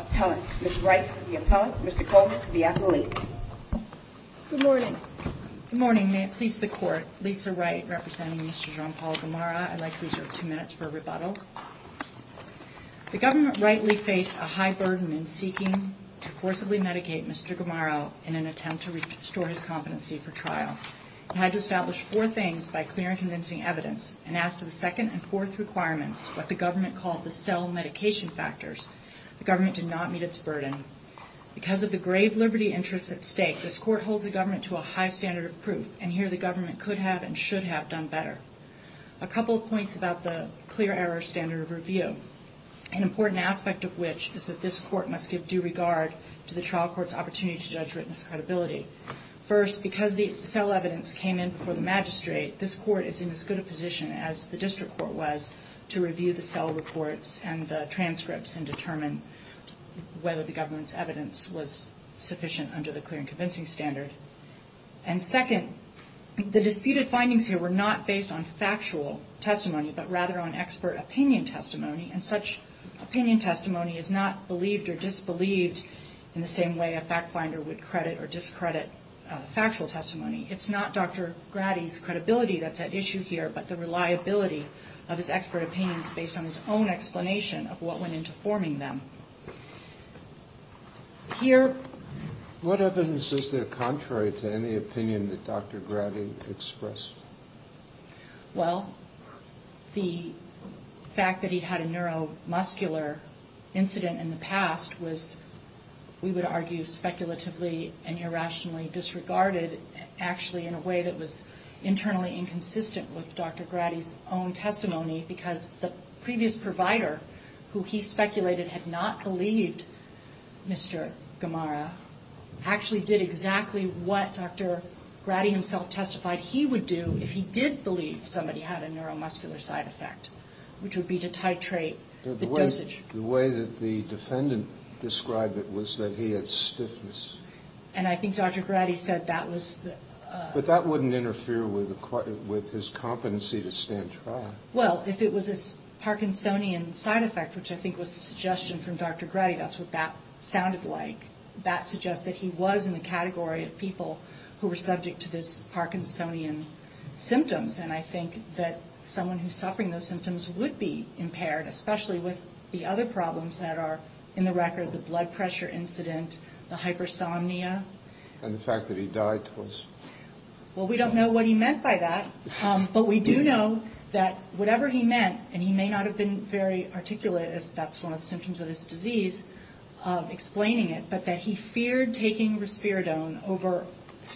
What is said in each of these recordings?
Appellant, Ms. Wright, the Appellant, Mr. Coleman, the Appellant. Good morning. May it please the Court, Lisa Wright representing Mr. Jean-Paul Gamarra. I'd like to reserve two minutes for a rebuttal. The government rightly faced a high burden in seeking to forcibly medicate Mr. Gamarra in an attempt to restore his competency for trial. It had to establish four things by clear and convincing evidence, and as to the second and fourth requirements, what the government called the cell medication factors, the government did not meet its burden. Because of the grave liberty interests at stake, this Court holds the government to a high standard of proof, and here the government could have and should have done better. A couple of points about the clear error standard of review, an important aspect of which is that this Court must give due regard to the trial court's opportunity to judge written discredibility. First, because the cell evidence came in before the magistrate, this Court is in as good a position as the district court was to review the cell reports and the transcripts and determine whether the government's evidence was sufficient under the clear and convincing standard. And second, the disputed findings here were not based on factual testimony, but rather on expert opinion testimony, and such opinion testimony is not believed or disbelieved in the same way a fact finder would credit or discredit factual testimony. It's not Dr. Grady's credibility that's at issue here, but the reliability of his expert opinions based on his own explanation of what went into forming them. Here... What evidence is there contrary to any opinion that Dr. Grady expressed? Well, the fact that he had a neuromuscular incident in the past was, we would argue, speculatively and irrationally disregarded, actually in a way that was internally inconsistent with Dr. Grady's own testimony, because the previous provider, who he speculated had not believed Mr. Gamara, actually did exactly what Dr. Grady himself testified he would do if he did believe somebody had a neuromuscular side effect, which would be to titrate the dosage. The way that the defendant described it was that he had stiffness. And I think Dr. Grady said that was... But that wouldn't interfere with his competency to stand trial. Well, if it was a Parkinsonian side effect, which I think was the suggestion from Dr. Grady, that's what that sounded like. That suggests that he was in the category of people who were subject to those Parkinsonian symptoms, and I think that someone who's suffering those symptoms would be impaired, especially with the other problems that are in the record, the blood pressure incident, the hypersomnia. And the fact that he died was... Well, we don't know what he meant by that, but we do know that whatever he meant, and he may not have been very articulate, as that's one of the symptoms of his disease, explaining it, but that he feared taking risperidone over,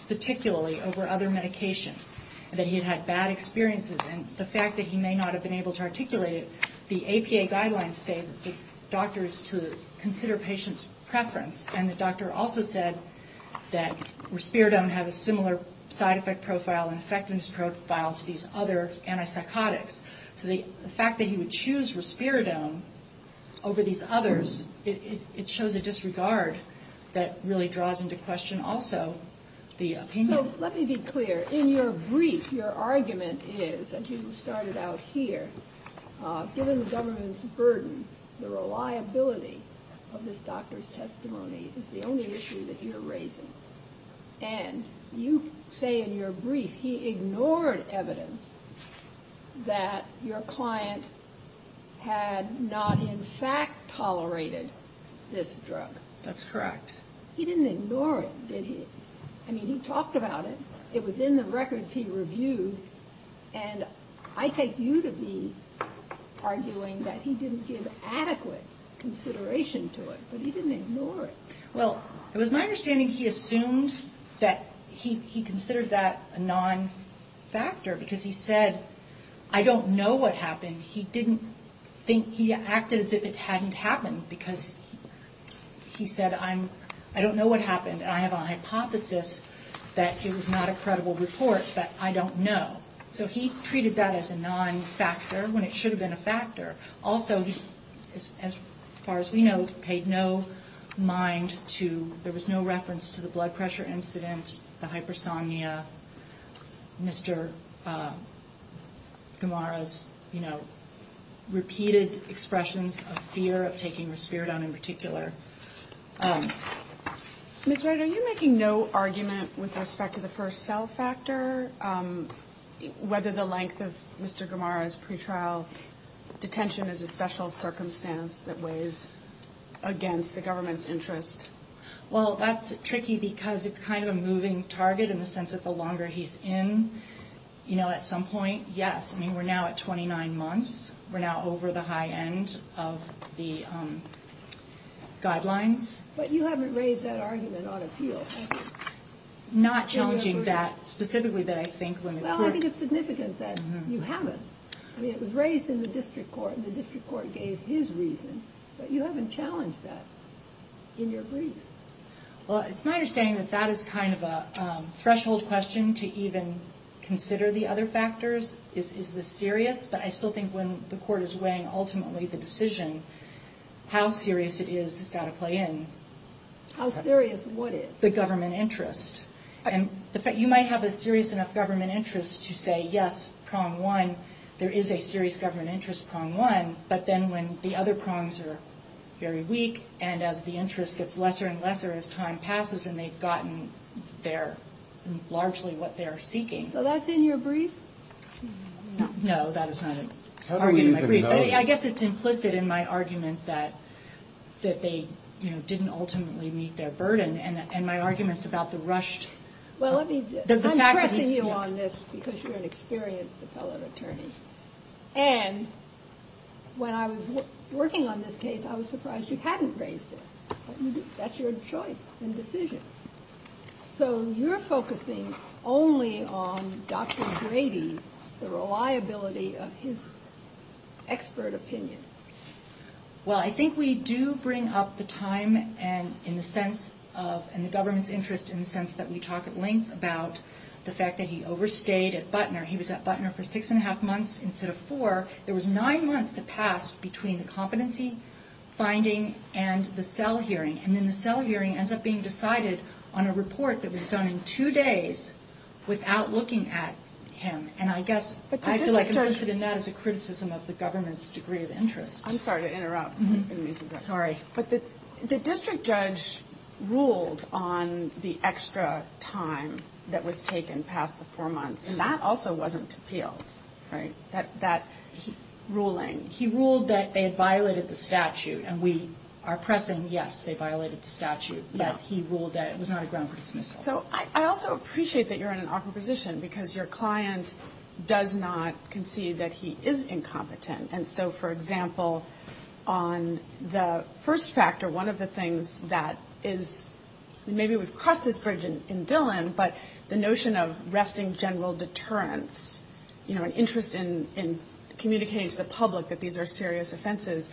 particularly over other medication, that he had had bad experiences, and the fact that he may not have been able to articulate it. The APA guidelines say that the doctor is to consider patient's preference, and the doctor also said that risperidone had a similar side effect profile and effectiveness profile to these other antipsychotics. So the fact that he would choose risperidone over these others, it shows a disregard that really draws into question also the opinion. So let me be clear. In your brief, your argument is, as you started out here, given the government's burden, the reliability of this doctor's testimony is the only issue that you're raising. And you say in your brief he ignored evidence that your client had not in fact tolerated this drug. That's correct. He didn't ignore it, did he? I mean, he talked about it. It was in the records he reviewed. And I take you to be arguing that he didn't give adequate consideration to it, but he didn't ignore it. Well, it was my understanding he assumed that he considered that a non-factor because he said, I don't know what happened. He acted as if it hadn't happened because he said, I don't know what happened, and I have a hypothesis that it was not a credible report, but I don't know. So he treated that as a non-factor when it should have been a factor. Also, as far as we know, he paid no mind to, there was no reference to the blood pressure incident, the hypersomnia, Mr. Gamara's repeated expressions of fear of taking risperidone in particular. Ms. Wright, are you making no argument with respect to the first cell factor, whether the length of Mr. Gamara's pretrial detention is a special circumstance that weighs against the government's interest? Well, that's tricky because it's kind of a moving target in the sense that the longer he's in, you know, at some point, yes. I mean, we're now at 29 months. We're now over the high end of the guidelines. But you haven't raised that argument on appeal. Not challenging that specifically, but I think when it's true. Well, I think it's significant that you haven't. I mean, it was raised in the district court, and the district court gave his reason, but you haven't challenged that in your brief. Well, it's my understanding that that is kind of a threshold question to even consider the other factors. Is this serious? But I still think when the court is weighing ultimately the decision, how serious it is has got to play in. How serious what is? The government interest. You might have a serious enough government interest to say, yes, prong one, there is a serious government interest prong one, but then when the other prongs are very weak, and as the interest gets lesser and lesser as time passes, and they've gotten largely what they're seeking. So that's in your brief? No, that is not an argument in my brief. I guess it's implicit in my argument that they didn't ultimately meet their burden, and my argument is about the rushed. Well, I'm pressing you on this because you're an experienced fellow attorney. And when I was working on this case, I was surprised you hadn't raised it. That's your choice and decision. So you're focusing only on Dr. Grady's, the reliability of his expert opinion. Well, I think we do bring up the time and the government's interest in the sense that we talk at length about the fact that he overstayed at Butner. He was at Butner for six and a half months instead of four. There was nine months that passed between the competency finding and the cell hearing, and then the cell hearing ends up being decided on a report that was done in two days without looking at him. And I guess I feel like implicit in that is a criticism of the government's degree of interest. I'm sorry to interrupt. Sorry. But the district judge ruled on the extra time that was taken past the four months, and that also wasn't appealed, that ruling. He ruled that they had violated the statute, and we are pressing, yes, they violated the statute. But he ruled that it was not a ground for dismissal. So I also appreciate that you're in an awkward position because your client does not concede that he is incompetent. And so, for example, on the first factor, one of the things that is ñ maybe we've crossed this bridge in Dillon, but the notion of resting general deterrence, an interest in communicating to the public that these are serious offenses,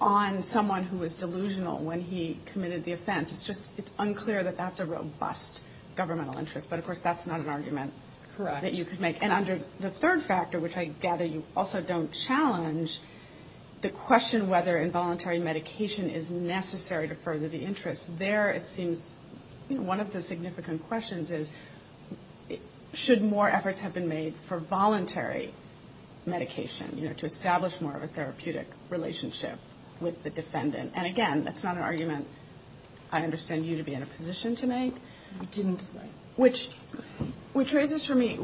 on someone who was delusional when he committed the offense, it's unclear that that's a robust governmental interest. But, of course, that's not an argument that you could make. And under the third factor, which I gather you also don't challenge, the question whether involuntary medication is necessary to further the interest, there it seems, you know, one of the significant questions is, should more efforts have been made for voluntary medication, you know, to establish more of a therapeutic relationship with the defendant. And, again, that's not an argument I understand you to be in a position to make. Which raises for me,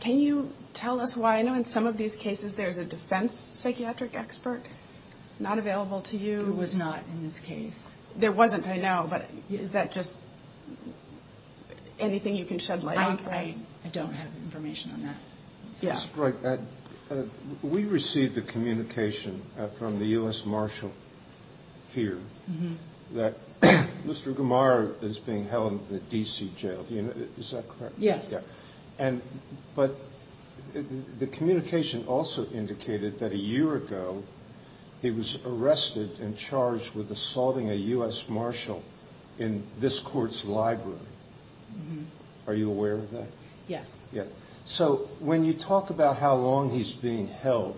can you tell us why? I know in some of these cases there's a defense psychiatric expert not available to you. Who was not in this case? There wasn't, I know, but is that just anything you can shed light on for us? I don't have information on that. Yes. Right. We received a communication from the U.S. Marshal here that Mr. Gamar is being held in the D.C. jail. Is that correct? Yes. But the communication also indicated that a year ago he was arrested and charged with assaulting a U.S. Marshal in this court's library. Are you aware of that? Yes. So when you talk about how long he's being held,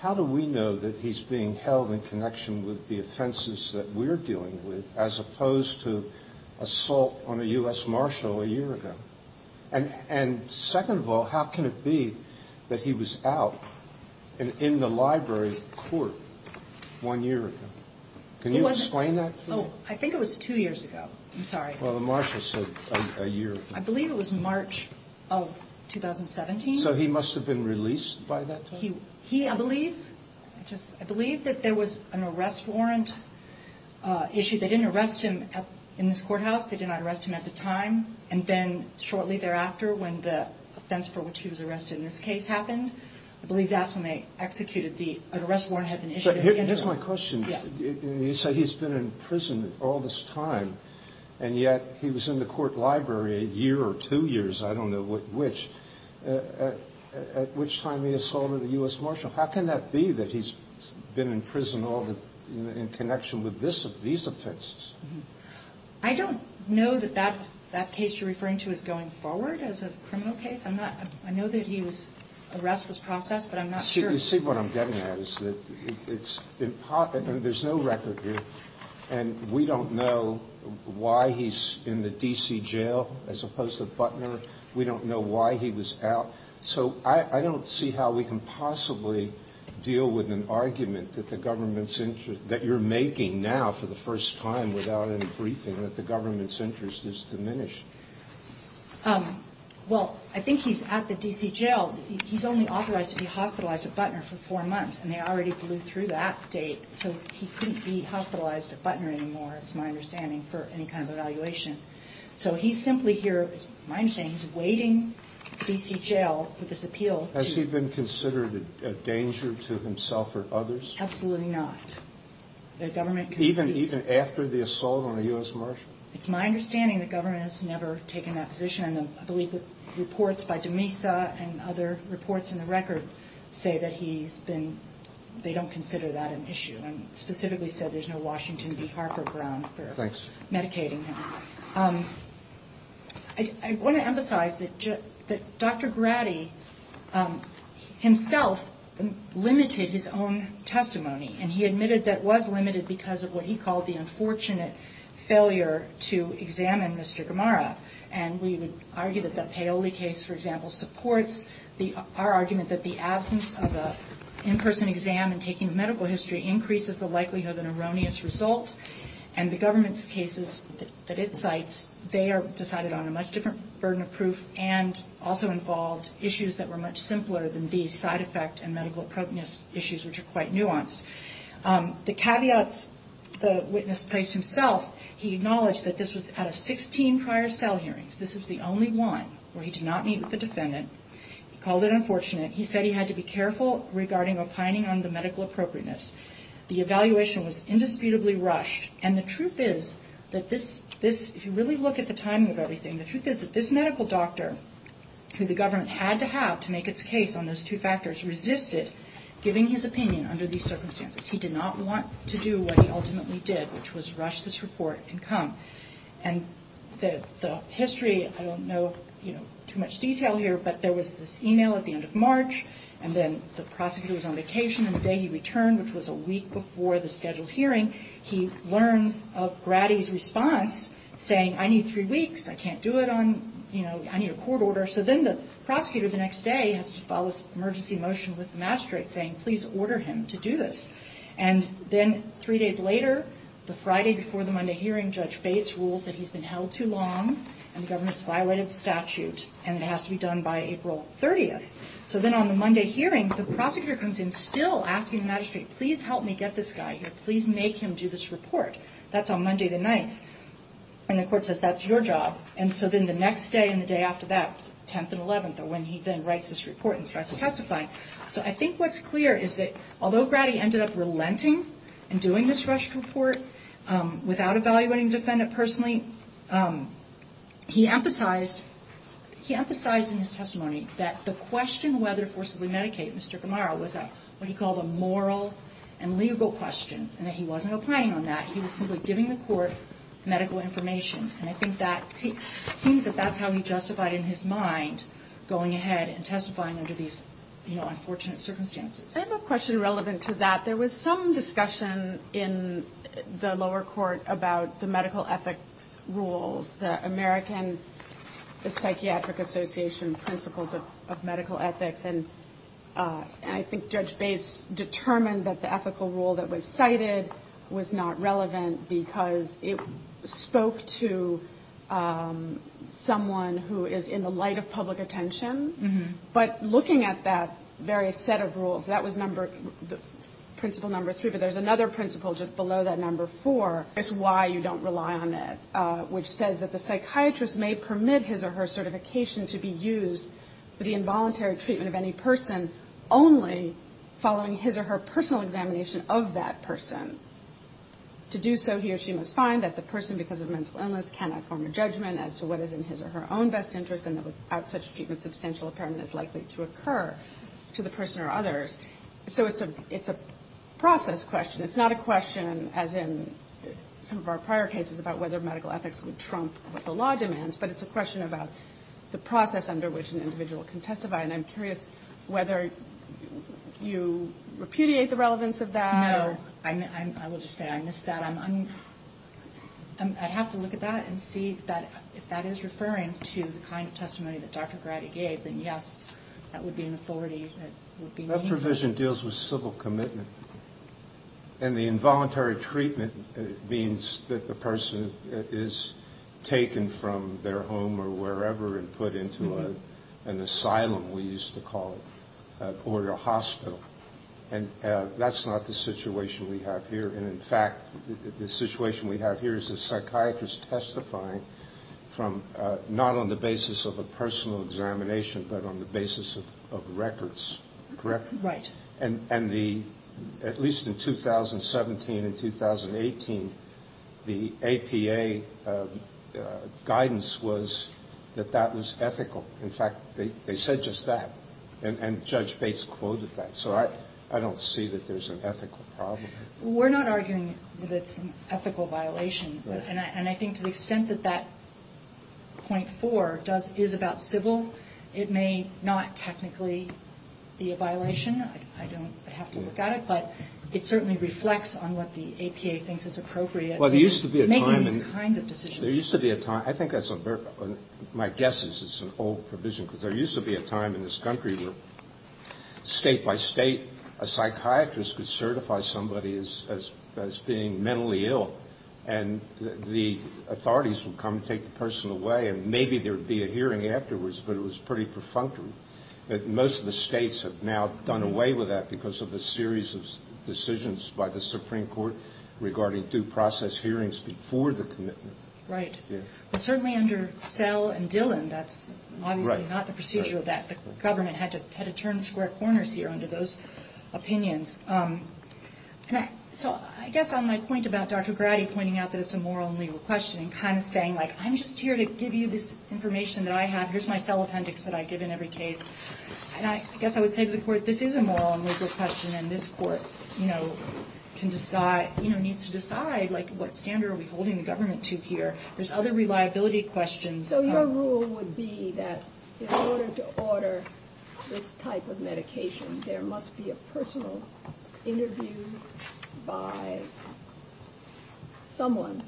how do we know that he's being held in connection with the offenses that we're dealing with, as opposed to assault on a U.S. Marshal a year ago? And second of all, how can it be that he was out in the library court one year ago? Can you explain that to me? I think it was two years ago. I'm sorry. Well, the Marshal said a year ago. I believe it was March of 2017. So he must have been released by that time? I believe that there was an arrest warrant issued. They didn't arrest him in this courthouse. They did not arrest him at the time. And then shortly thereafter, when the offense for which he was arrested in this case happened, I believe that's when they executed the arrest warrant that had been issued. Here's my question. You said he's been in prison all this time, and yet he was in the court library a year or two years, I don't know which, at which time he assaulted a U.S. Marshal. How can that be that he's been in prison in connection with these offenses? I don't know that that case you're referring to is going forward as a criminal case. I know that the arrest was processed, but I'm not sure. You see what I'm getting at is that there's no record here, and we don't know why he's in the D.C. jail as opposed to Butner. We don't know why he was out. So I don't see how we can possibly deal with an argument that the government's interest, that you're making now for the first time without any briefing, that the government's interest is diminished. Well, I think he's at the D.C. jail. He's only authorized to be hospitalized at Butner for four months, and they already blew through that date, so he couldn't be hospitalized at Butner anymore, it's my understanding, for any kind of evaluation. So he's simply here, it's my understanding, he's waiting at the D.C. jail for this appeal. Has he been considered a danger to himself or others? Absolutely not. Even after the assault on a U.S. Marshal? It's my understanding the government has never taken that position, and I believe the reports by Demesa and other reports in the record say that he's been, they don't consider that an issue, and specifically said there's no Washington v. Harper ground for medicating him. Thanks. I want to emphasize that Dr. Grady himself limited his own testimony, and he admitted that it was limited because of what he called the unfortunate failure to examine Mr. Gamara, and we would argue that the Paoli case, for example, supports our argument that the absence of an in-person exam and taking a medical history increases the likelihood of an erroneous result, and the government's cases that it cites, they are decided on a much different burden of proof and also involved issues that were much simpler than these side effect and medical prognosis issues, which are quite nuanced. The caveats the witness placed himself, he acknowledged that this was out of 16 prior cell hearings. This is the only one where he did not meet with the defendant. He called it unfortunate. He said he had to be careful regarding opining on the medical appropriateness. The evaluation was indisputably rushed, and the truth is that this, if you really look at the timing of everything, the truth is that this medical doctor, who the government had to have to make its case on those two factors, resisted giving his opinion under these circumstances. He did not want to do what he ultimately did, which was rush this report and come. And the history, I don't know too much detail here, but there was this e-mail at the end of March, and then the prosecutor was on vacation, and the day he returned, which was a week before the scheduled hearing, he learns of Grady's response, saying, I need three weeks. I can't do it on, you know, I need a court order. So then the prosecutor the next day has to file this emergency motion with the magistrate saying, please order him to do this. And then three days later, the Friday before the Monday hearing, Judge Bates rules that he's been held too long and the government's violated the statute, and it has to be done by April 30th. So then on the Monday hearing, the prosecutor comes in still asking the magistrate, please help me get this guy here. Please make him do this report. That's on Monday the 9th, and the court says, that's your job. And so then the next day and the day after that, 10th and 11th are when he then writes this report and starts testifying. So I think what's clear is that although Grady ended up relenting and doing this rushed report without evaluating the defendant personally, he emphasized in his testimony that the question whether to forcibly medicate Mr. Kamara was what he called a moral and legal question, and that he wasn't opining on that. He was simply giving the court medical information. And I think that seems that that's how he justified in his mind going ahead and testifying under these, you know, unfortunate circumstances. I have a question relevant to that. There was some discussion in the lower court about the medical ethics rules, the American Psychiatric Association principles of medical ethics. And I think Judge Bates determined that the ethical rule that was cited was not relevant because it spoke to someone who is in the light of public attention. But looking at that very set of rules, that was number, principle number three. But there's another principle just below that, number four, is why you don't rely on it, which says that the psychiatrist may permit his or her certification to be used for the involuntary treatment of any person only following his or her personal examination of that person. To do so, he or she must find that the person, because of mental illness, cannot form a judgment as to what is in his or her own best interest, and that without such treatment, substantial impairment is likely to occur to the person or others. So it's a process question. It's not a question, as in some of our prior cases, about whether medical ethics would trump what the law demands, but it's a question about the process under which an individual can testify. And I'm curious whether you repudiate the relevance of that. No. I will just say I missed that. I have to look at that and see that if that is referring to the kind of testimony that Dr. Grady gave, then yes, that would be an authority that would be meaningful. That provision deals with civil commitment. And the involuntary treatment means that the person is taken from their home or wherever and put into an asylum, we used to call it, or a hospital. And that's not the situation we have here. And, in fact, the situation we have here is a psychiatrist testifying from not on the basis of a personal examination, but on the basis of records, correct? Right. And at least in 2017 and 2018, the APA guidance was that that was ethical. In fact, they said just that. And Judge Bates quoted that. So I don't see that there's an ethical problem. We're not arguing that it's an ethical violation. And I think to the extent that that .4 is about civil, it may not technically be a violation. I don't have to look at it. But it certainly reflects on what the APA thinks is appropriate in making these kinds of decisions. There used to be a time. I think that's a very – my guess is it's an old provision, because there used to be a time in this country where state by state a psychiatrist could certify somebody as being mentally ill, and the authorities would come and take the person away, and maybe there would be a hearing afterwards, but it was pretty perfunctory. But most of the states have now done away with that because of a series of decisions by the Supreme Court regarding due process hearings before the commitment. Right. But certainly under Sell and Dillon, that's obviously not the procedure of that. The government had to turn square corners here under those opinions. So I guess on my point about Dr. Grady pointing out that it's a moral and legal question and kind of saying, like, I'm just here to give you this information that I have. Here's my cell appendix that I give in every case. And I guess I would say to the court, this is a moral and legal question, and this court, you know, can decide – you know, needs to decide, like, what standard are we holding the government to here? There's other reliability questions. So your rule would be that in order to order this type of medication, there must be a personal interview by someone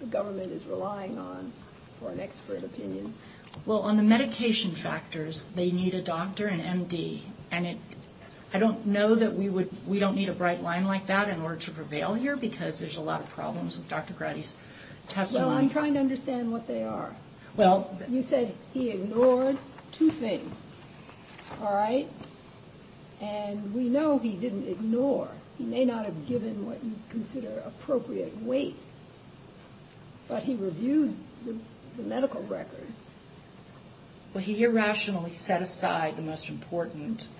the government is relying on for an expert opinion? Well, on the medication factors, they need a doctor, an M.D. And I don't know that we don't need a bright line like that in order to prevail here because there's a lot of problems with Dr. Grady's testimony. So I'm trying to understand what they are. Well – You said he ignored two things. All right? And we know he didn't ignore. He may not have given what you'd consider appropriate weight. But he reviewed the medical records. Well, he irrationally set aside the most important –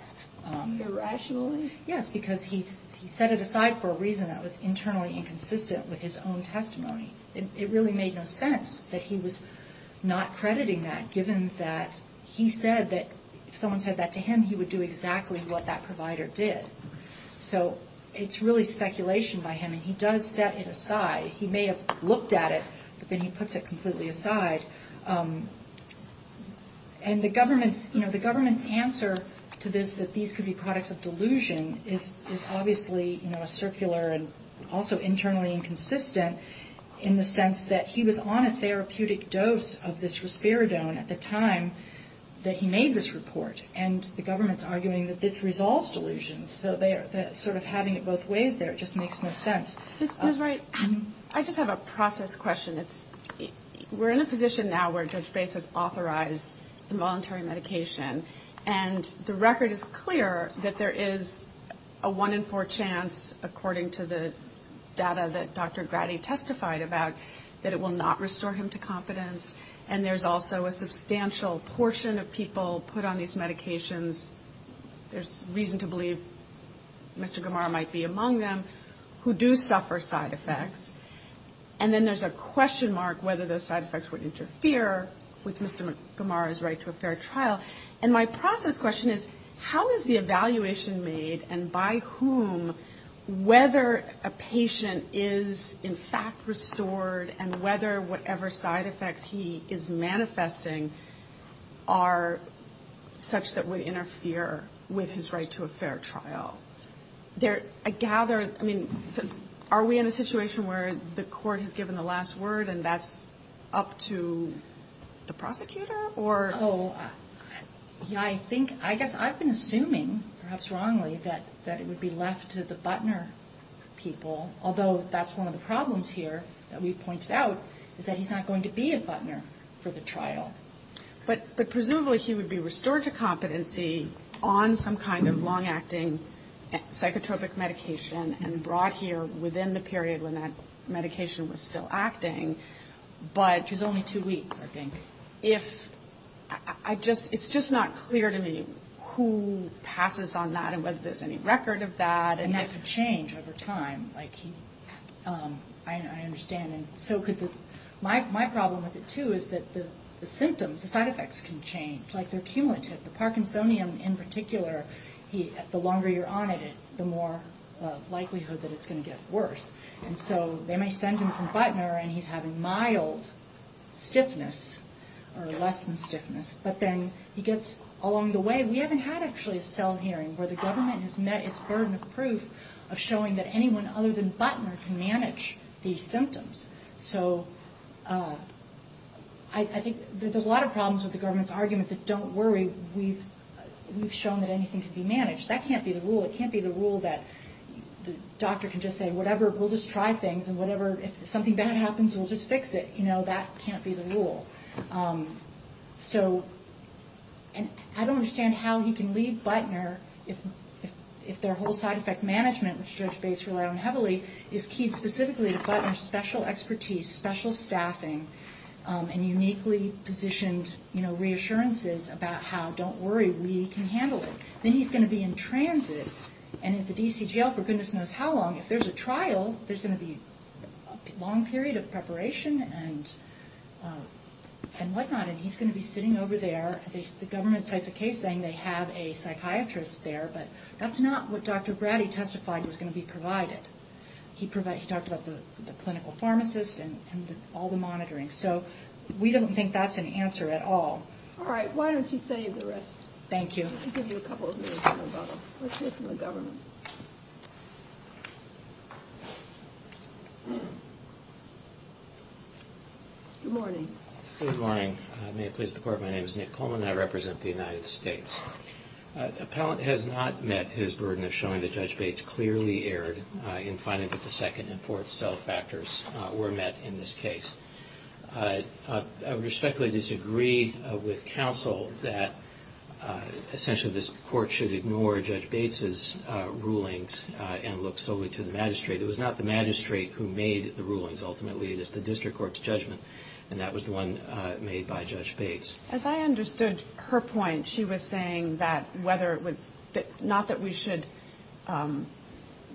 Irrationally? Yes, because he set it aside for a reason that was internally inconsistent with his own testimony. It really made no sense that he was not crediting that, given that he said that if someone said that to him, he would do exactly what that provider did. So it's really speculation by him, and he does set it aside. He may have looked at it, but then he puts it completely aside. And the government's answer to this, that these could be products of delusion, is obviously a circular and also internally inconsistent in the sense that he was on a therapeutic dose of this risperidone at the time that he made this report. And the government's arguing that this resolves delusions. So sort of having it both ways there just makes no sense. Ms. Wright, I just have a process question. We're in a position now where Judge Bates has authorized involuntary medication, and the record is clear that there is a one-in-four chance, according to the data that Dr. Grady testified about, that it will not restore him to competence. And there's also a substantial portion of people put on these medications – there's reason to believe Mr. Gamara might be among them – who do suffer side effects. And then there's a question mark whether those side effects would interfere with Mr. Gamara's right to a fair trial. And my process question is, how is the evaluation made, and by whom, whether a patient is in fact restored, and whether whatever side effects he is manifesting are such that would interfere with his right to a fair trial? I gather – I mean, are we in a situation where the court has given the last word and that's up to the prosecutor? I think – I guess I've been assuming, perhaps wrongly, that it would be left to the Butner people, although that's one of the problems here that we've pointed out, is that he's not going to be a Butner for the trial. But presumably he would be restored to competency on some kind of long-acting psychotropic medication and brought here within the period when that medication was still acting. But he's only two weeks, I think. It's just not clear to me who passes on that and whether there's any record of that. And that could change over time. My problem with it, too, is that the symptoms, the side effects can change. It's like they're cumulative. The Parkinsonian in particular, the longer you're on it, the more likelihood that it's going to get worse. And so they may send him from Butner and he's having mild stiffness or less than stiffness, but then he gets along the way – we haven't had actually a cell hearing where the government has met its burden of proof of showing that anyone other than Butner can manage these symptoms. So I think there's a lot of problems with the government's argument that, don't worry, we've shown that anything can be managed. That can't be the rule. It can't be the rule that the doctor can just say, whatever, we'll just try things, and if something bad happens, we'll just fix it. That can't be the rule. And I don't understand how he can leave Butner if their whole side effect management, which Judge Bates relied on heavily, is keyed specifically to Butner's special expertise, special staffing, and uniquely positioned reassurances about how, don't worry, we can handle it. Then he's going to be in transit, and at the DC jail, for goodness knows how long. If there's a trial, there's going to be a long period of preparation and whatnot, and he's going to be sitting over there. The government cites a case saying they have a psychiatrist there, but that's not what Dr. Grady testified was going to be provided. He talked about the clinical pharmacist and all the monitoring. So we don't think that's an answer at all. All right, why don't you save the rest. Good morning. Appellant has not met his burden of showing that Judge Bates clearly erred in finding that the second and fourth cell factors were met in this case. I respectfully disagree with counsel that essentially this Court should ignore Judge Bates' rulings and look solely to the magistrate. It was not the magistrate who made the rulings, ultimately. It is the district court's judgment, and that was the one made by Judge Bates. As I understood her point, she was saying that whether it was, not that we should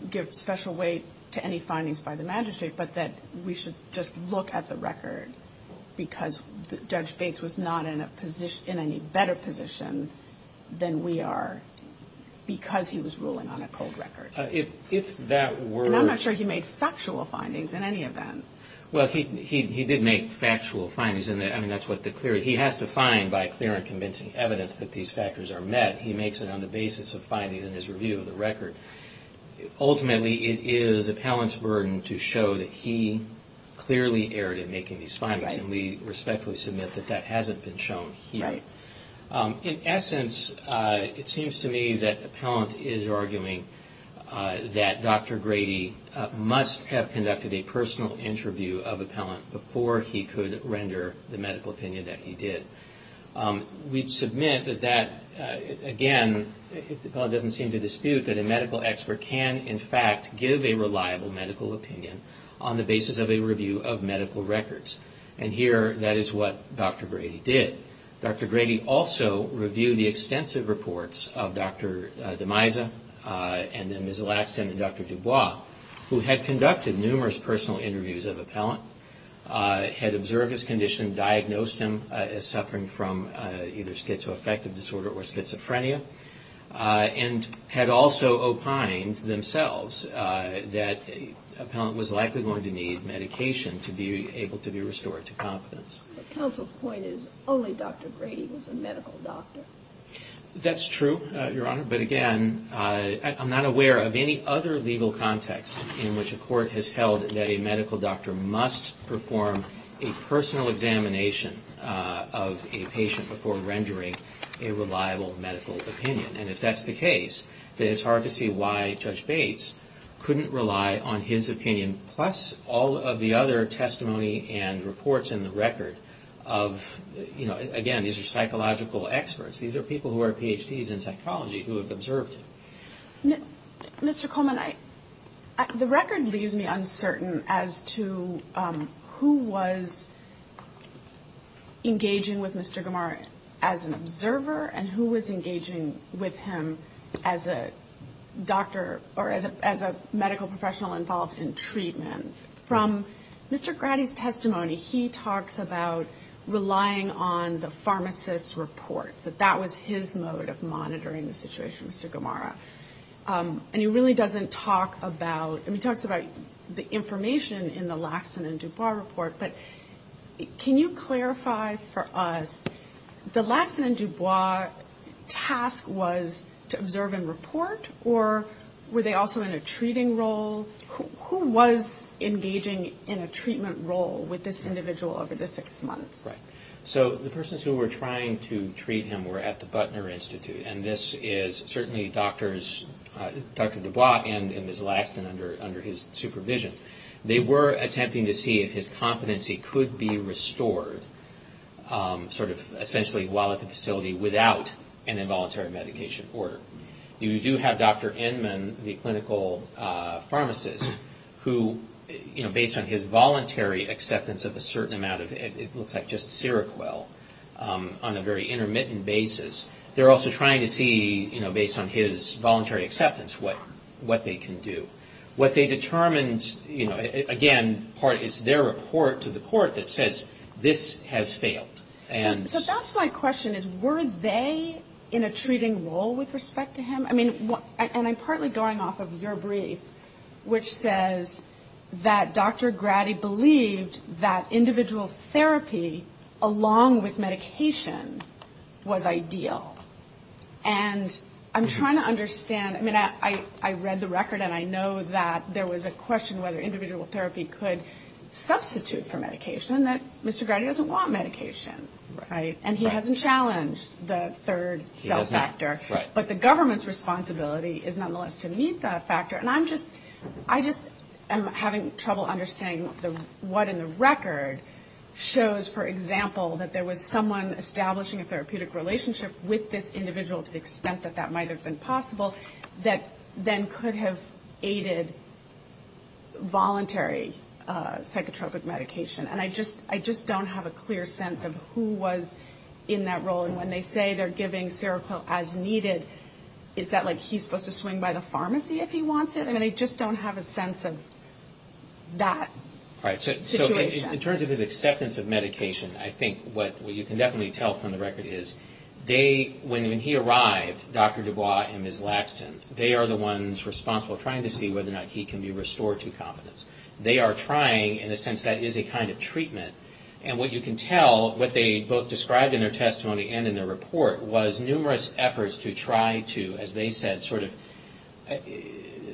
give special weight to any findings by the magistrate, but that we should just look at the record because Judge Bates was not in any better position than we are because he was ruling on a cold record. And I'm not sure he made factual findings in any event. Well, he did make factual findings. He has to find by clear and convincing evidence that these factors are met. He makes it on the basis of findings in his review of the record. Ultimately, it is Appellant's burden to show that he clearly erred in making these findings, and we respectfully submit that that hasn't been shown here. In essence, it seems to me that Appellant is arguing that Dr. Grady must have conducted a personal interview of Appellant before he could render the medical opinion that he did. We submit that, again, if Appellant doesn't seem to dispute, that a medical expert can, in fact, give a reliable medical opinion on the basis of a review of medical records. And here, that is what Dr. Grady did. Dr. Grady also reviewed the extensive reports of Dr. DeMaisa, and then Ms. Laxton and Dr. Dubois, who had conducted numerous personal interviews of Appellant, had observed his condition, diagnosed him as suffering from either schizoaffective disorder or schizophrenia, and had also opined themselves that Appellant was likely going to need medication to be able to be restored to confidence. That's true, Your Honor, but again, I'm not aware of any other legal context in which a court has held that a medical doctor must perform a personal examination of a patient before rendering a reliable medical opinion. And if that's the case, then it's hard to see why Judge Bates couldn't rely on his opinion plus all of the other testimony and reports in the record of, you know, again, these are psychological experts. These are people who are Ph.D.s in psychology who have observed him. Mr. Coleman, the record leaves me uncertain as to who was engaging with Mr. Gamar as an observer and who was engaging with him as a doctor or as a medical professional involved in treatment. From Mr. Grady's testimony, he talks about relying on the pharmacist's reports, that that was his mode of monitoring the situation, Mr. Gamara. And he really doesn't talk about, I mean, he talks about the information in the Laxon and Dubois report, but can you clarify for us, the Laxon and Dubois task was to observe and report, or were they also in a treating role? Who was engaging in a treatment role with this individual over the six months? So the persons who were trying to treat him were at the Butner Institute, and this is certainly Dr. Dubois and Ms. Laxon under his supervision. They were attempting to see if his competency could be restored, sort of essentially while at the facility without an involuntary medication order. You do have Dr. Inman, the clinical pharmacist, who, you know, based on his voluntary acceptance of a certain amount of, it looks like just Seroquel, on a very intermittent basis, they're also trying to see, you know, based on his voluntary acceptance, what they can do. What they determined, you know, again, it's their report to the court that says, this has failed. And... So that's my question, is were they in a treating role with respect to him? I mean, and I'm partly going off of your brief, which says that Dr. Grady believed that individual therapy, along with medication, was ideal. And I'm trying to understand, I mean, I read the record, and I know that there was a question whether individual therapy could substitute for medication, and that Mr. Grady doesn't want medication, right? And he hasn't challenged the third cell factor. But the government's responsibility is nonetheless to meet that factor. And I just am having trouble understanding what in the record shows, for example, that there was someone establishing a therapeutic relationship with this individual to the extent that that might have been possible, that then could have aided voluntary psychotropic medication. And I just don't have a clear sense of who was in that role. And when they say they're giving Seroquel as needed, is that like he's supposed to swing by the pharmacy if he wants it? I mean, I just don't have a sense of that situation. In terms of his acceptance of medication, I think what you can definitely tell from the record is, when he arrived, Dr. Dubois and Ms. Laxton, they are the ones responsible for trying to see whether or not he can be restored to confidence. They are trying, in a sense that is a kind of treatment, and what you can tell, what they both described in their testimony and in their report was numerous efforts to try to, as they said, sort of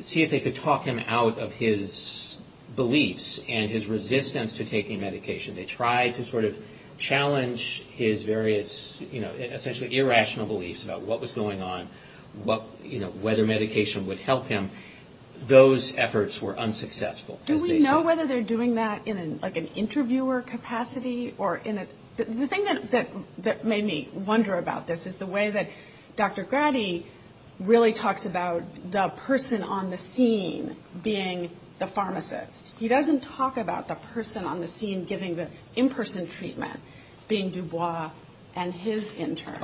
see if they could talk him out of his beliefs and his resistance to taking medication. They tried to sort of challenge his various, you know, essentially irrational beliefs about what was going on, whether medication would help him. Those efforts were unsuccessful, as they said. Do we know whether they're doing that in like an interviewer capacity? The thing that made me wonder about this is the way that Dr. Grady really talks about the person on the scene being the pharmacist. He doesn't talk about the person on the scene giving the in-person treatment, being Dubois and his intern.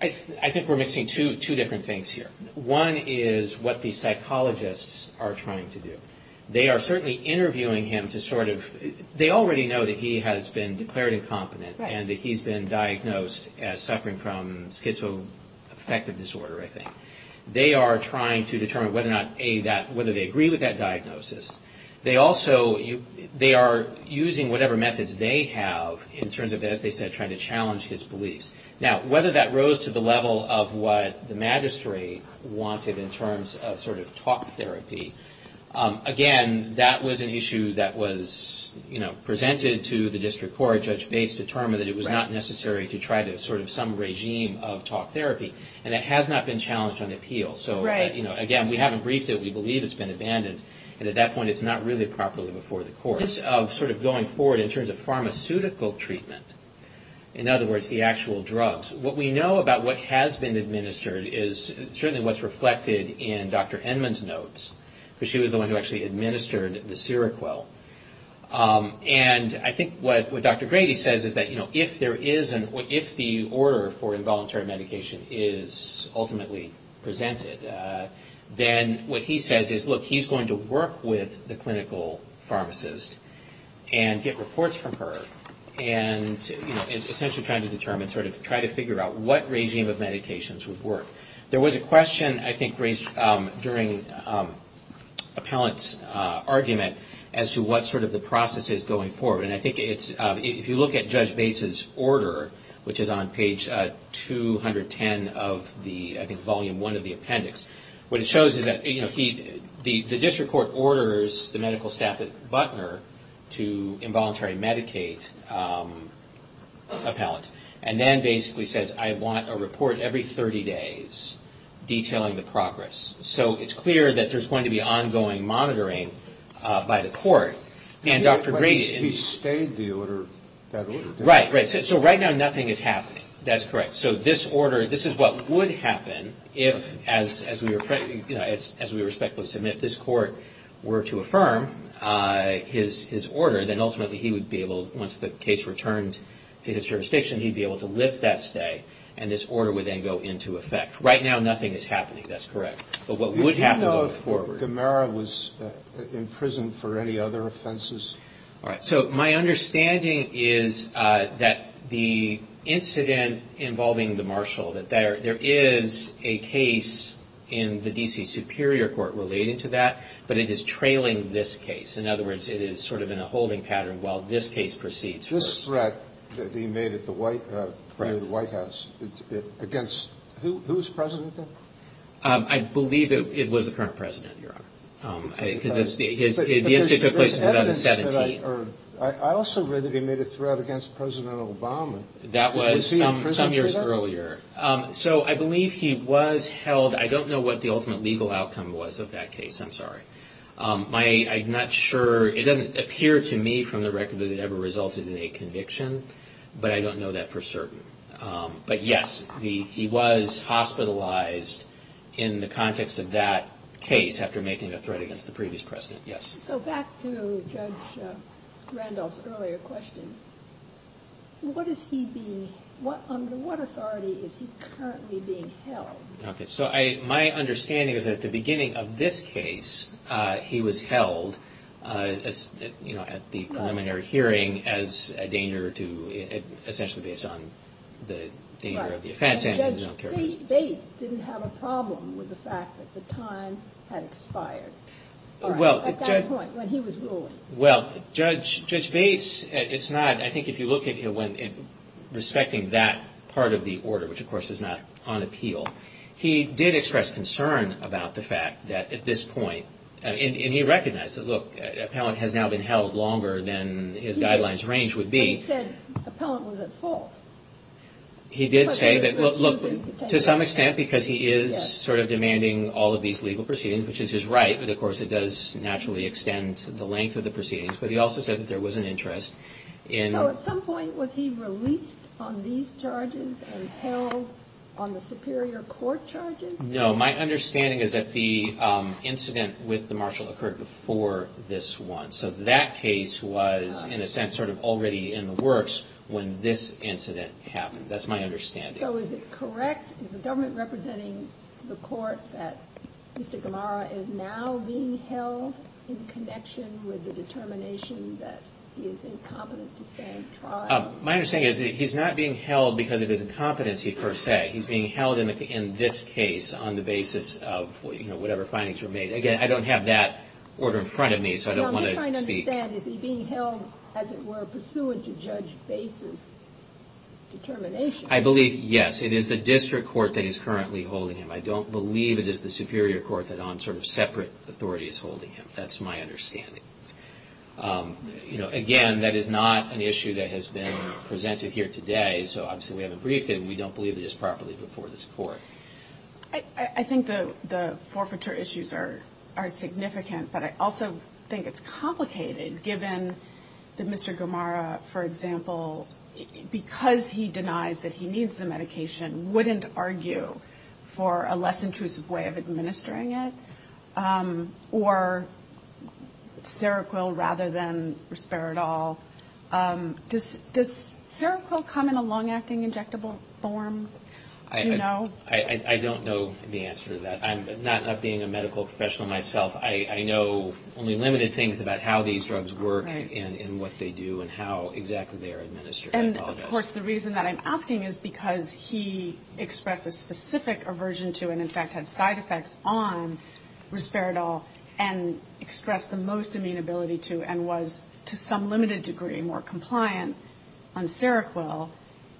I think we're mixing two different things here. One is what the psychologists are trying to do. The pharmacist has been declared incompetent and that he's been diagnosed as suffering from schizoaffective disorder, I think. They are trying to determine whether or not, A, whether they agree with that diagnosis. They also, they are using whatever methods they have in terms of, as they said, trying to challenge his beliefs. Now, whether that rose to the level of what the magistrate wanted in terms of sort of talk therapy, again, that was an issue that was presented to the district court. Judge Bates determined that it was not necessary to try to sort of some regime of talk therapy. It has not been challenged on appeal. Again, we haven't briefed it. We believe it's been abandoned. At that point, it's not really properly before the court. In terms of going forward, in terms of pharmaceutical treatment, in other words, the actual drugs, what we know about what has been administered is certainly what's reflected in Dr. Enman's notes, because she was the one who actually administered the Seroquel. I think what Dr. Grady says is that if the order for involuntary medication is ultimately presented, then what he says is, look, he's going to work with the clinical pharmacist and get reports from her, and essentially trying to determine, sort of try to figure out what regime of medications would work. There was a question, I think, raised during appellant's argument as to what sort of the process is going forward. And I think it's, if you look at Judge Bates's order, which is on page 210 of the, I think, volume one of the appendix, what it shows is that, you know, the district court orders the medical staff at Butner to involuntary medicate appellant, and then basically says, I want a report every 30 days detailing the progress. So it's clear that there's going to be ongoing monitoring by the court. And Dr. Grady... Right, right. So right now nothing is happening. That's correct. So this order, this is what would happen if, as we respectfully submit, this court were to affirm his order, then ultimately he would be able, once the case returned to his jurisdiction, he'd be able to lift that stay, and this order would then go into effect. Right now nothing is happening. That's correct. But what would happen... All right. So my understanding is that the incident involving the marshal, that there is a case in the D.C. Superior Court relating to that, but it is trailing this case. In other words, it is sort of in a holding pattern while this case proceeds. This threat that he made at the White House against... I believe it was the current president, Your Honor. But there's evidence that I heard. I also read that he made a threat against President Obama. That was some years earlier. So I believe he was held. I don't know what the ultimate legal outcome was of that case. I'm sorry. I'm not sure. It doesn't appear to me from the record that it ever resulted in a conviction, but I don't know that for certain. But yes, he was hospitalized in the context of that case after making a threat against the previous president. Yes. So back to Judge Randolph's earlier question, what is he being... Under what authority is he currently being held? Okay. So my understanding is that at the beginning of this case, he was held, you know, at the preliminary hearing as a danger to... essentially based on the danger of the offense. And Judge Bates didn't have a problem with the fact that the time had expired at that point when he was ruling. Well, Judge Bates, it's not... I think if you look at it when respecting that part of the order, which of course is not on appeal, he did express concern about the fact that at this point... And he recognized that, look, appellant has now been held longer than his guidelines range would be. But he said appellant was at fault. He did say that, look, to some extent because he is sort of demanding all of these legal proceedings, which is his right, but of course it does naturally extend the length of the proceedings. But he also said that there was an interest in... No, my understanding is that the incident with the marshal occurred before this one. So that case was in a sense sort of already in the works when this incident happened. That's my understanding. So is it correct, is the government representing the court that Mr. Gamara is now being held in connection with the determination that he is incompetent to stand trial? My understanding is that he's not being held because of his incompetency per se. He's being held in this case on the basis of whatever findings were made. Again, I don't have that order in front of me, so I don't want to speak... But is he being held, as it were, pursuant to Judge Bates' determination? I believe, yes. It is the district court that is currently holding him. I don't believe it is the superior court that on sort of separate authority is holding him. That's my understanding. Again, that is not an issue that has been presented here today, so obviously we haven't briefed him. Given that Mr. Gamara, for example, because he denies that he needs the medication, wouldn't argue for a less intrusive way of administering it? Or Seroquel rather than Risperidol? Does Seroquel come in a long-acting injectable form? I don't know the answer to that. I'm not being a medical professional myself. I know only limited things about how these drugs work and what they do and how exactly they are administered. And of course the reason that I'm asking is because he expressed a specific aversion to and in fact had side effects on Risperidol and expressed the most amenability to and was to some limited degree more compliant on Seroquel.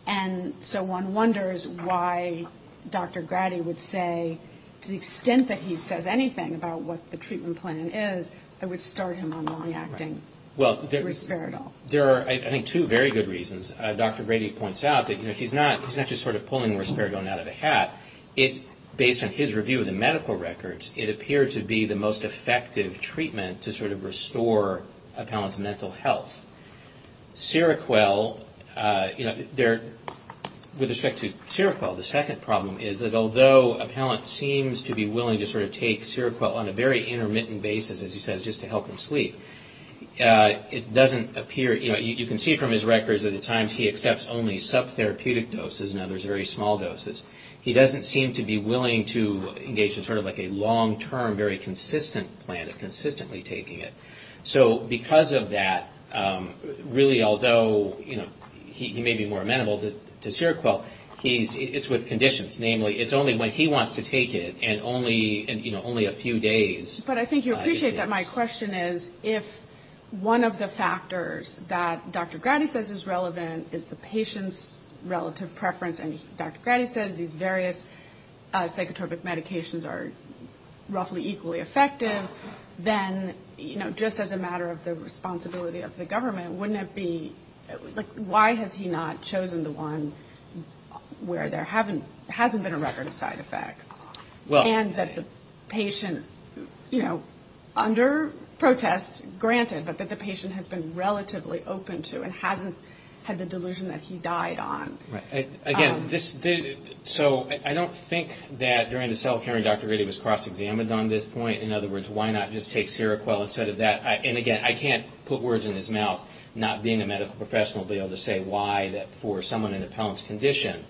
And so one wonders why Dr. Grady would say to the extent that he says anything about what the treatment is, I would start him on long-acting Risperidol. There are, I think, two very good reasons. Dr. Grady points out that he's not just sort of pulling Risperidol out of a hat. Based on his review of the medical records, it appeared to be the most effective treatment to sort of restore a patient's mental health. With respect to Seroquel, the second problem is that although a patient seems to be willing to sort of take Seroquel on a very intermittent basis, as he says, just to help him sleep, it doesn't appear, you know, you can see from his records that at times he accepts only sub-therapeutic doses and others very small doses. He doesn't seem to be willing to engage in sort of like a long-term, very consistent plan of consistently taking it. So because of that, really, although he may be more amenable to Seroquel, it's with conditions. Namely, it's only when he wants to take it and only a few days. But I think you appreciate that my question is, if one of the factors that Dr. Grady says is relevant is the patient's relative preference, and Dr. Grady says these various psychotropic medications are roughly equally effective, then, you know, just as a matter of the responsibility of the government, wouldn't it be, like, why has he not chosen the one where there hasn't been a record of side effects? And that the patient, you know, under protest, granted, but that the patient has been relatively open to and hasn't had the delusion that he died on. Again, so I don't think that during the self-hearing Dr. Grady was cross-examined on this point. In other words, why not just take Seroquel instead of that? And again, I can't put words in his mouth, not being a medical professional, being able to say why, that for someone in a Pellant's condition,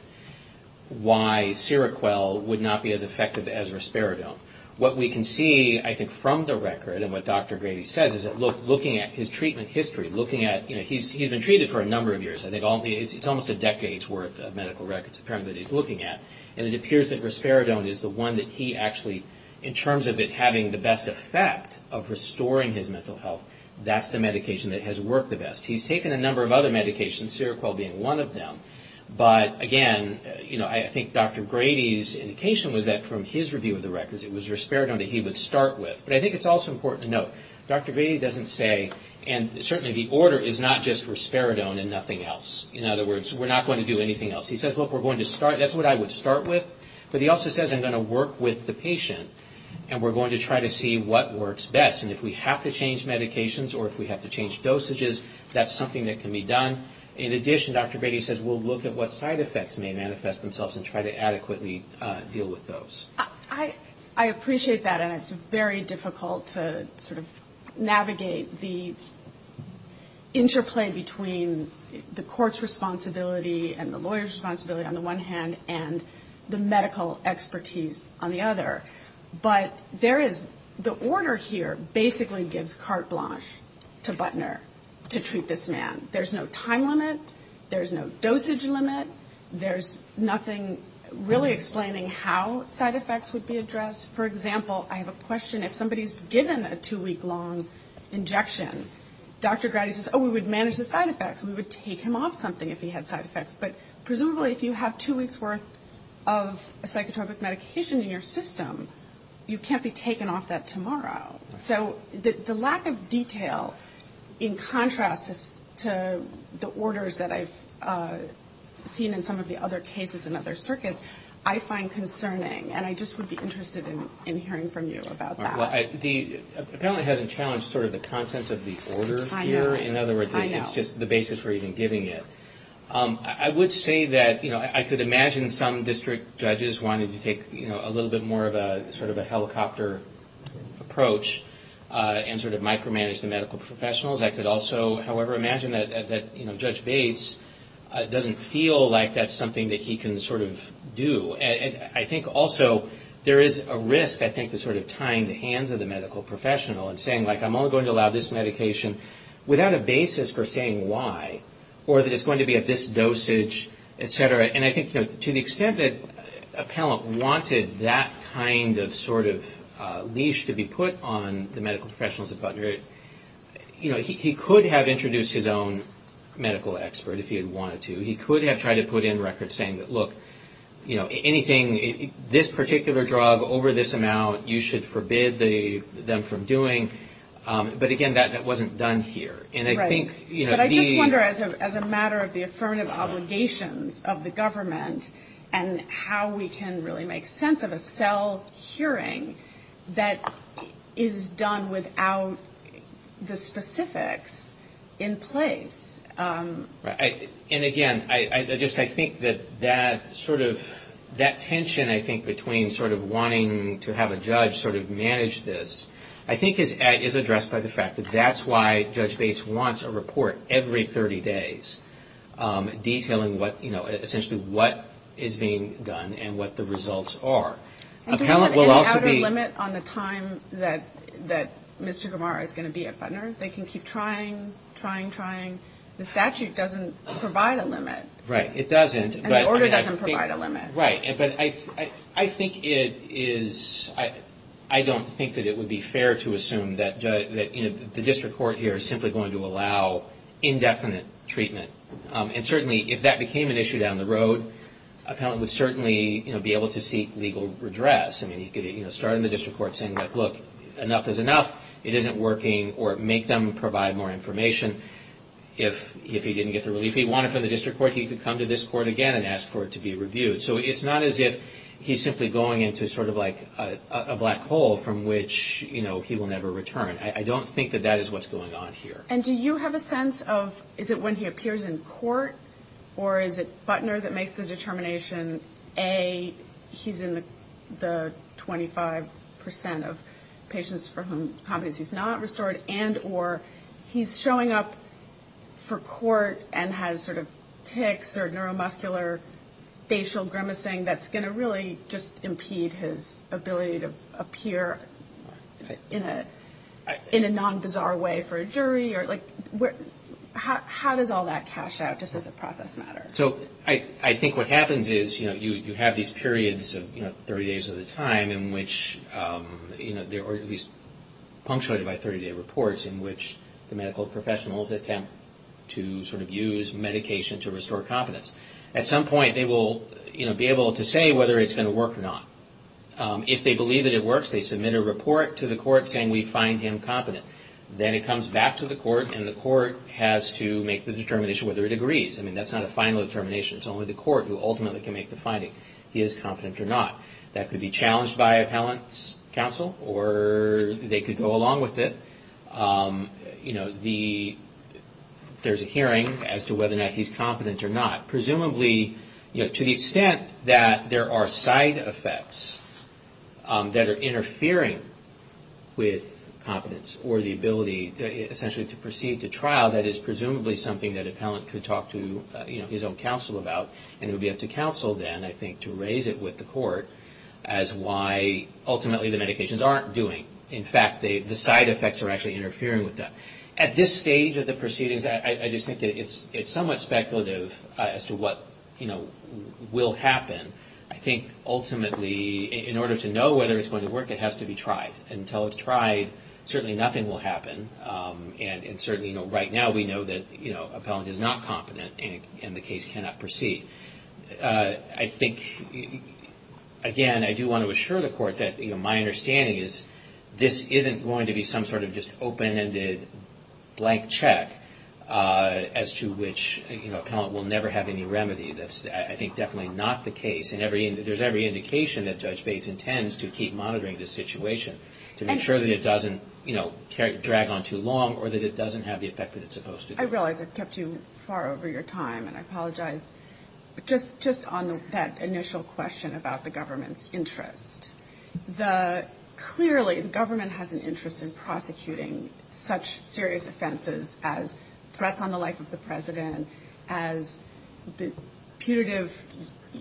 why Seroquel would not be as effective as Risperidone. What we can see, I think, from the record and what Dr. Grady says is that looking at his treatment history, looking at, you know, he's been treated for a number of years. I think it's almost a decade's worth of medical records apparently that he's looking at. And it appears that Risperidone is the one that he actually, in terms of it having the best effect of restoring his mental health, that's the medication that has worked the best. He's taken a number of other medications, Seroquel being one of them. But again, you know, I think Dr. Grady's indication was that from his review of the records it was Risperidone that he would start with. But I think it's also important to note, Dr. Grady doesn't say, and certainly the order is not just Risperidone and nothing else. In other words, we're not going to do anything else. He says, look, we're going to start, that's what I would start with. But he also says, I'm going to work with the patient and we're going to try to see what works best. And if we have to change medications or if we have to change dosages, that's something that can be done. In addition, Dr. Grady says, we'll look at what side effects may manifest themselves and try to adequately deal with those. I appreciate that, and it's very difficult to sort of navigate the interplay between the court's responsibility and the lawyer's responsibility on the one hand and the medical expertise on the other. But there is, the order here basically gives carte blanche to Butner to treat this man. There's no time limit, there's no dosage limit, there's nothing really explaining how side effects would be addressed. For example, I have a question, if somebody's given a two-week long injection, Dr. Grady says, oh, we would manage the side effects. We would take him off something if he had side effects. But presumably if you have two weeks' worth of a psychotropic medication in your system, you can't be taken off that tomorrow. So the lack of detail in contrast to the orders that I've seen in some of the other cases in other circuits, I find concerning. And I just would be interested in hearing from you about that. Well, the appellant hasn't challenged sort of the content of the order here. In other words, it's just the basis for even giving it. I would say that I could imagine some district judges wanting to take a little bit more of a sort of a helicopter approach and sort of micromanage the medical professionals. I could also, however, imagine that Judge Bates doesn't feel like that's something that he can sort of do. And I think also there is a risk, I think, to sort of tying the hands of the medical professional and saying, like, I'm only going to allow this medication without a basis for saying why, or that it's going to be at this dosage, et cetera. And I think to the extent that appellant wanted that kind of sort of leash to be put on the medical professionals at Butner, he could have introduced his own medical expert if he had wanted to. He could have tried to put in records saying that, look, anything, this particular drug over this amount, you should forbid them from doing. But again, that wasn't done here. And I think the... But I just wonder as a matter of the affirmative obligations of the government and how we can really make sense of a cell hearing that is done without the specifics in place. And again, I just, I think that that sort of, that tension, I think, between sort of wanting to have a judge sort of manage this, I think is addressed by the fact that that's why Judge Bates wants a report every 30 days detailing what, you know, essentially what is being done and what the results are. Appellant will also be... The statute doesn't provide a limit. Right. It doesn't. And the order doesn't provide a limit. Right. But I think it is, I don't think that it would be fair to assume that, you know, the district court here is simply going to allow indefinite treatment. And certainly if that became an issue down the road, appellant would certainly be able to seek legal redress. If he didn't get the relief he wanted from the district court, he could come to this court again and ask for it to be reviewed. So it's not as if he's simply going into sort of like a black hole from which, you know, he will never return. I don't think that that is what's going on here. And do you have a sense of, is it when he appears in court or is it Butner that makes the determination, A, he's in the 25 percent of patients for whom Corporate may be approved for court and has sort of tics or neuromuscular facial grimacing that's going to really just impede his ability to appear in a non-bizarre way for a jury? How does all that cash out just as a process matter? So I think what happens is, you know, you have these periods of 30 days at a time in which, there are these punctuated by 30-day reports in which the medical professionals attempt to sort of use medication to restore competence. At some point, they will be able to say whether it's going to work or not. If they believe that it works, they submit a report to the court saying, we find him competent. Then it comes back to the court, and the court has to make the determination whether it agrees. I mean, that's not a final determination. It's only the court who ultimately can make the finding, he is competent or not. That could be challenged by appellant's counsel, or they could go along with it. You know, there's a hearing as to whether or not he's competent or not. Presumably, to the extent that there are side effects that are interfering with competence, or the ability essentially to proceed to trial, that is presumably something that an appellant could talk to his own counsel about. It would be up to counsel then, I think, to raise it with the court as why ultimately the medications aren't doing. In fact, the side effects are actually interfering with that. At this stage of the proceedings, I just think that it's somewhat speculative as to what will happen. I think ultimately, in order to know whether it's going to work, it has to be tried. And certainly, right now, we know that appellant is not competent, and the case cannot proceed. I think, again, I do want to assure the court that my understanding is this isn't going to be some sort of just open-ended blank check, as to which appellant will never have any remedy. That's, I think, definitely not the case. And there's every indication that Judge Bates intends to keep monitoring this situation, to make sure that it doesn't drag on too long, or that it doesn't have the effect that it's supposed to. I realize I've kept you far over your time, and I apologize. But just on that initial question about the government's interest, clearly the government has an interest in prosecuting such serious offenses as threats on the life of the President, as the putative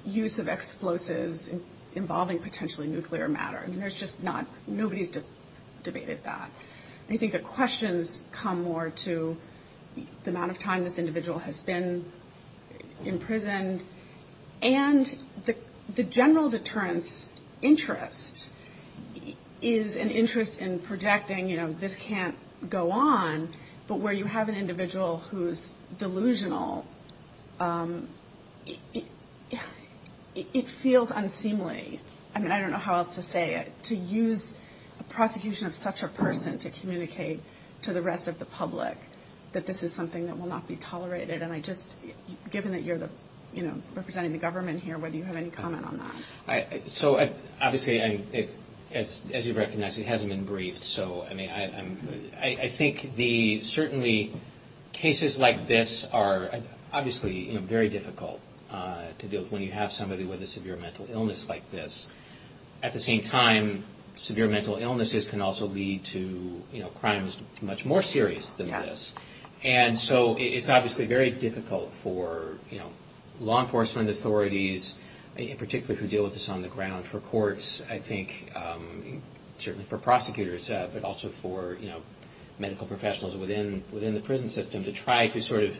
use of explosives involving potentially nuclear matter. I mean, there's just not – nobody's debated that. I think the questions come more to the amount of time this individual has been imprisoned. And the general deterrence interest is an interest in projecting, you know, this can't go on, but where you have an individual who's delusional, it feels unseemly. I mean, I don't know how else to say it, to use a prosecution of such a person to communicate to the rest of the public that this is something that will not be tolerated. And I just – given that you're, you know, representing the government here, whether you have any comment on that. So, obviously, as you recognize, it hasn't been briefed. So, I mean, I think the – certainly cases like this are obviously very difficult to deal with when you have somebody with a severe mental illness like this. At the same time, severe mental illnesses can also lead to, you know, crimes much more serious than this. And so it's obviously very difficult for, you know, law enforcement authorities, in particular, who deal with this on the ground, for courts, I think, certainly for prosecutors, but also for, you know, medical professionals within the prison system to try to sort of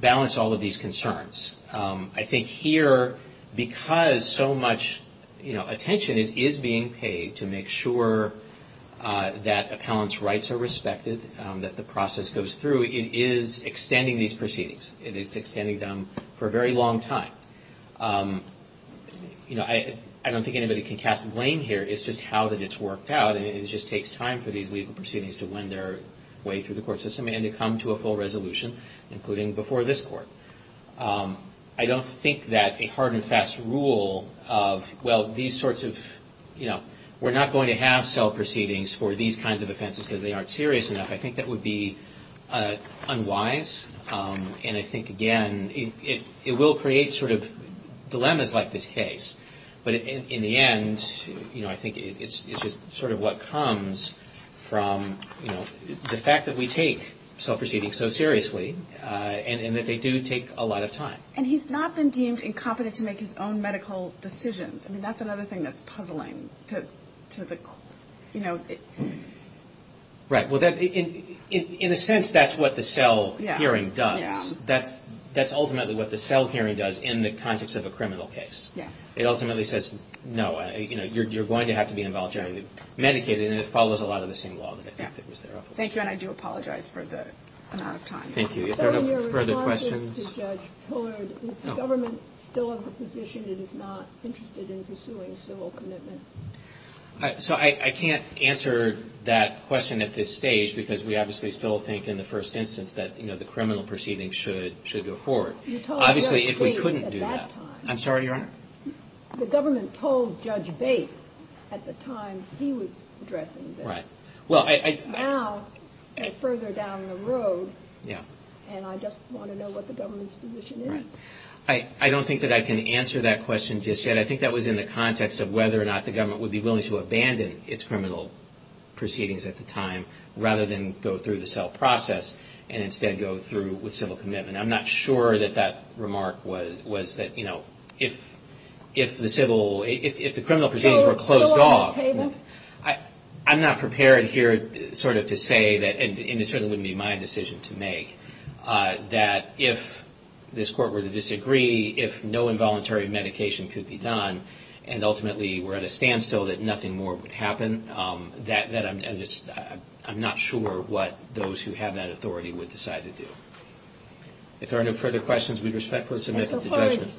balance all of these concerns. I think here, because so much, you know, attention is being paid to make sure that appellants' rights are respected, that the process goes through, it is extending these proceedings. It is extending them for a very long time. You know, I don't think anybody can cast blame here. It's just how that it's worked out. And it just takes time for these legal proceedings to wind their way through the court system and to come to a full resolution, including before this court. I don't think that a hard and fast rule of, well, these sorts of, you know, we're not going to have self-proceedings for these kinds of offenses because they aren't serious enough, I think that would be unwise. And I think, again, it will create sort of dilemmas like this case. But in the end, you know, I think it's just sort of what comes from, you know, the fact that we take self-proceedings so seriously and that they do take a lot of time. And he's not been deemed incompetent to make his own medical decisions. I mean, that's another thing that's puzzling to the, you know... Right. Well, in a sense, that's what the cell hearing does. That's ultimately what the cell hearing does in the context of a criminal case. It ultimately says, no, you know, you're going to have to be involuntarily medicated. And it follows a lot of the same law that I think was there. Thank you. And I do apologize for the amount of time. Thank you. Is there no further questions? So I can't answer that question at this stage because we obviously still think in the first instance that, you know, the criminal proceedings should go forward. Obviously, if we couldn't do that. I'm sorry, Your Honor. The government told Judge Bates at the time he was addressing this. Now, they're further down the road. And I just want to know what the government's position is. I don't think that I can answer that question just yet. I think that was in the context of whether or not the government would be willing to abandon its criminal proceedings at the time rather than go through the cell process and instead go through with civil commitment. I'm not sure that that remark was that, you know, if the civil, if the criminal proceedings were closed off. I'm not prepared here sort of to say that, and it certainly wouldn't be my decision to make, that if this court were to disagree, if no involuntary medication could be done, and ultimately we're at a standstill that nothing more would happen, that I'm just, I'm not sure what those who have that authority would decide to do. If there are no further questions, we respectfully submit to the judgment.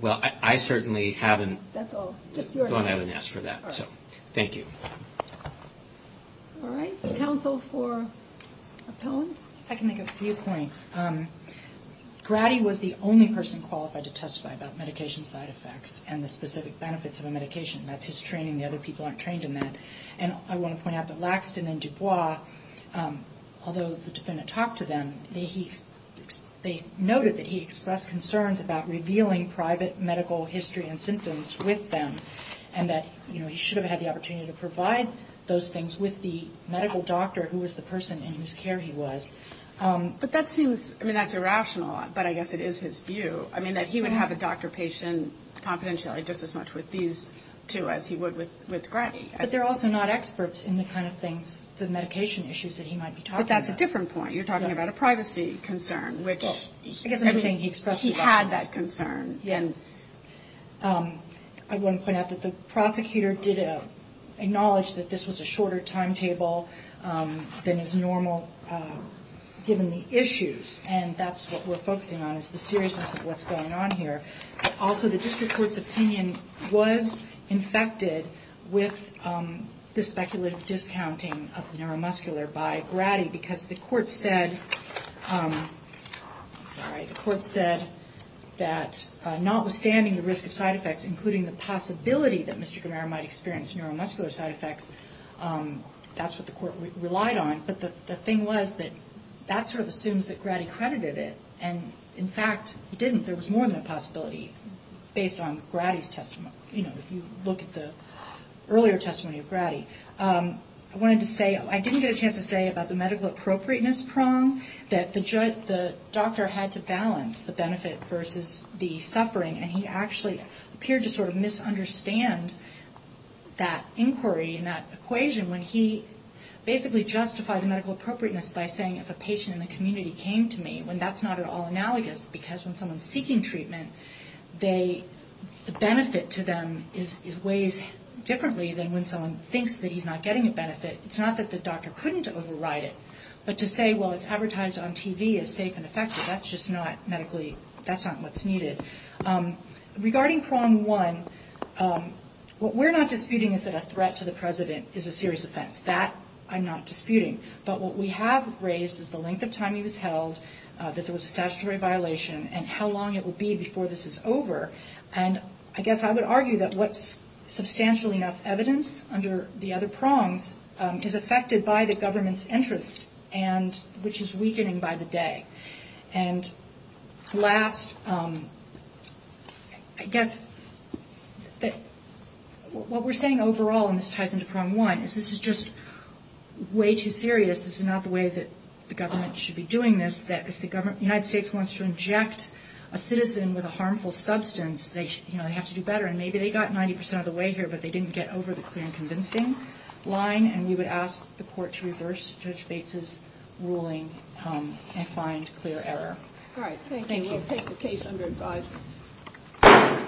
Well, I certainly haven't gone out and asked for that. Thank you. I can make a few points. I mean, I don't think that there's any specific benefits of a medication. That's his training. The other people aren't trained in that. And I want to point out that Laxton and Dubois, although the defendant talked to them, they noted that he expressed concerns about revealing private medical history and symptoms with them, and that, you know, he should have had the opportunity to provide those things with the medical doctor who was the person in whose care he was. But that seems, I mean, that's irrational, but I guess it is his view. I mean, that he would have a doctor-patient confidentiality just as much with these two as he would with Grady. But they're also not experts in the kind of things, the medication issues that he might be talking about. But that's a different point. You're talking about a privacy concern, which I guess I'm saying he had that concern. I want to point out that the prosecutor did acknowledge that this was a shorter timetable than is normal, given the issues. And that's what we're focusing on is the seriousness of what's going on here. Also, the district court's opinion was infected with the speculative discounting of the neuromuscular by Grady, because the court said that notwithstanding the risk of side effects, including the possibility that Mr. Gamara might experience neuromuscular side effects, that's what the court relied on. But the thing was that that sort of assumes that Grady credited it. And, in fact, he didn't. There was more than a possibility, based on Grady's testimony, you know, if you look at the earlier testimony of Grady. I wanted to say, I didn't get a chance to say about the medical appropriateness prong, that the doctor had to balance the benefit versus the suffering. And he actually appeared to sort of misunderstand that inquiry and that equation when he basically justified the medical appropriateness by saying if a patient in the community came to me, when that's not at all analogous, because when someone's seeking treatment, the benefit to them weighs differently than when someone thinks that he's not getting a benefit. It's not that the doctor couldn't override it, but to say, well, it's advertised on TV as safe and effective, that's just not medically, that's not what's needed. Regarding prong one, what we're not disputing is that a threat to the president is a serious offense. That I'm not disputing. But what we have raised is the length of time he was held, that there was a statutory violation, and how long it would be before this is over. And I guess I would argue that what's substantial enough evidence under the other prongs is affected by the government's interest, which is weakening by the day. And last, I guess, what we're saying overall, and this ties into prong one, is this is just way too serious, this is not the way that the government should be doing this, that if the United States wants to inject a citizen with a harmful substance, they have to do better, and maybe they got 90% of the way here, but they didn't get over the clear and convincing line, and we would ask the court to reverse Judge Bates' ruling and find clear error.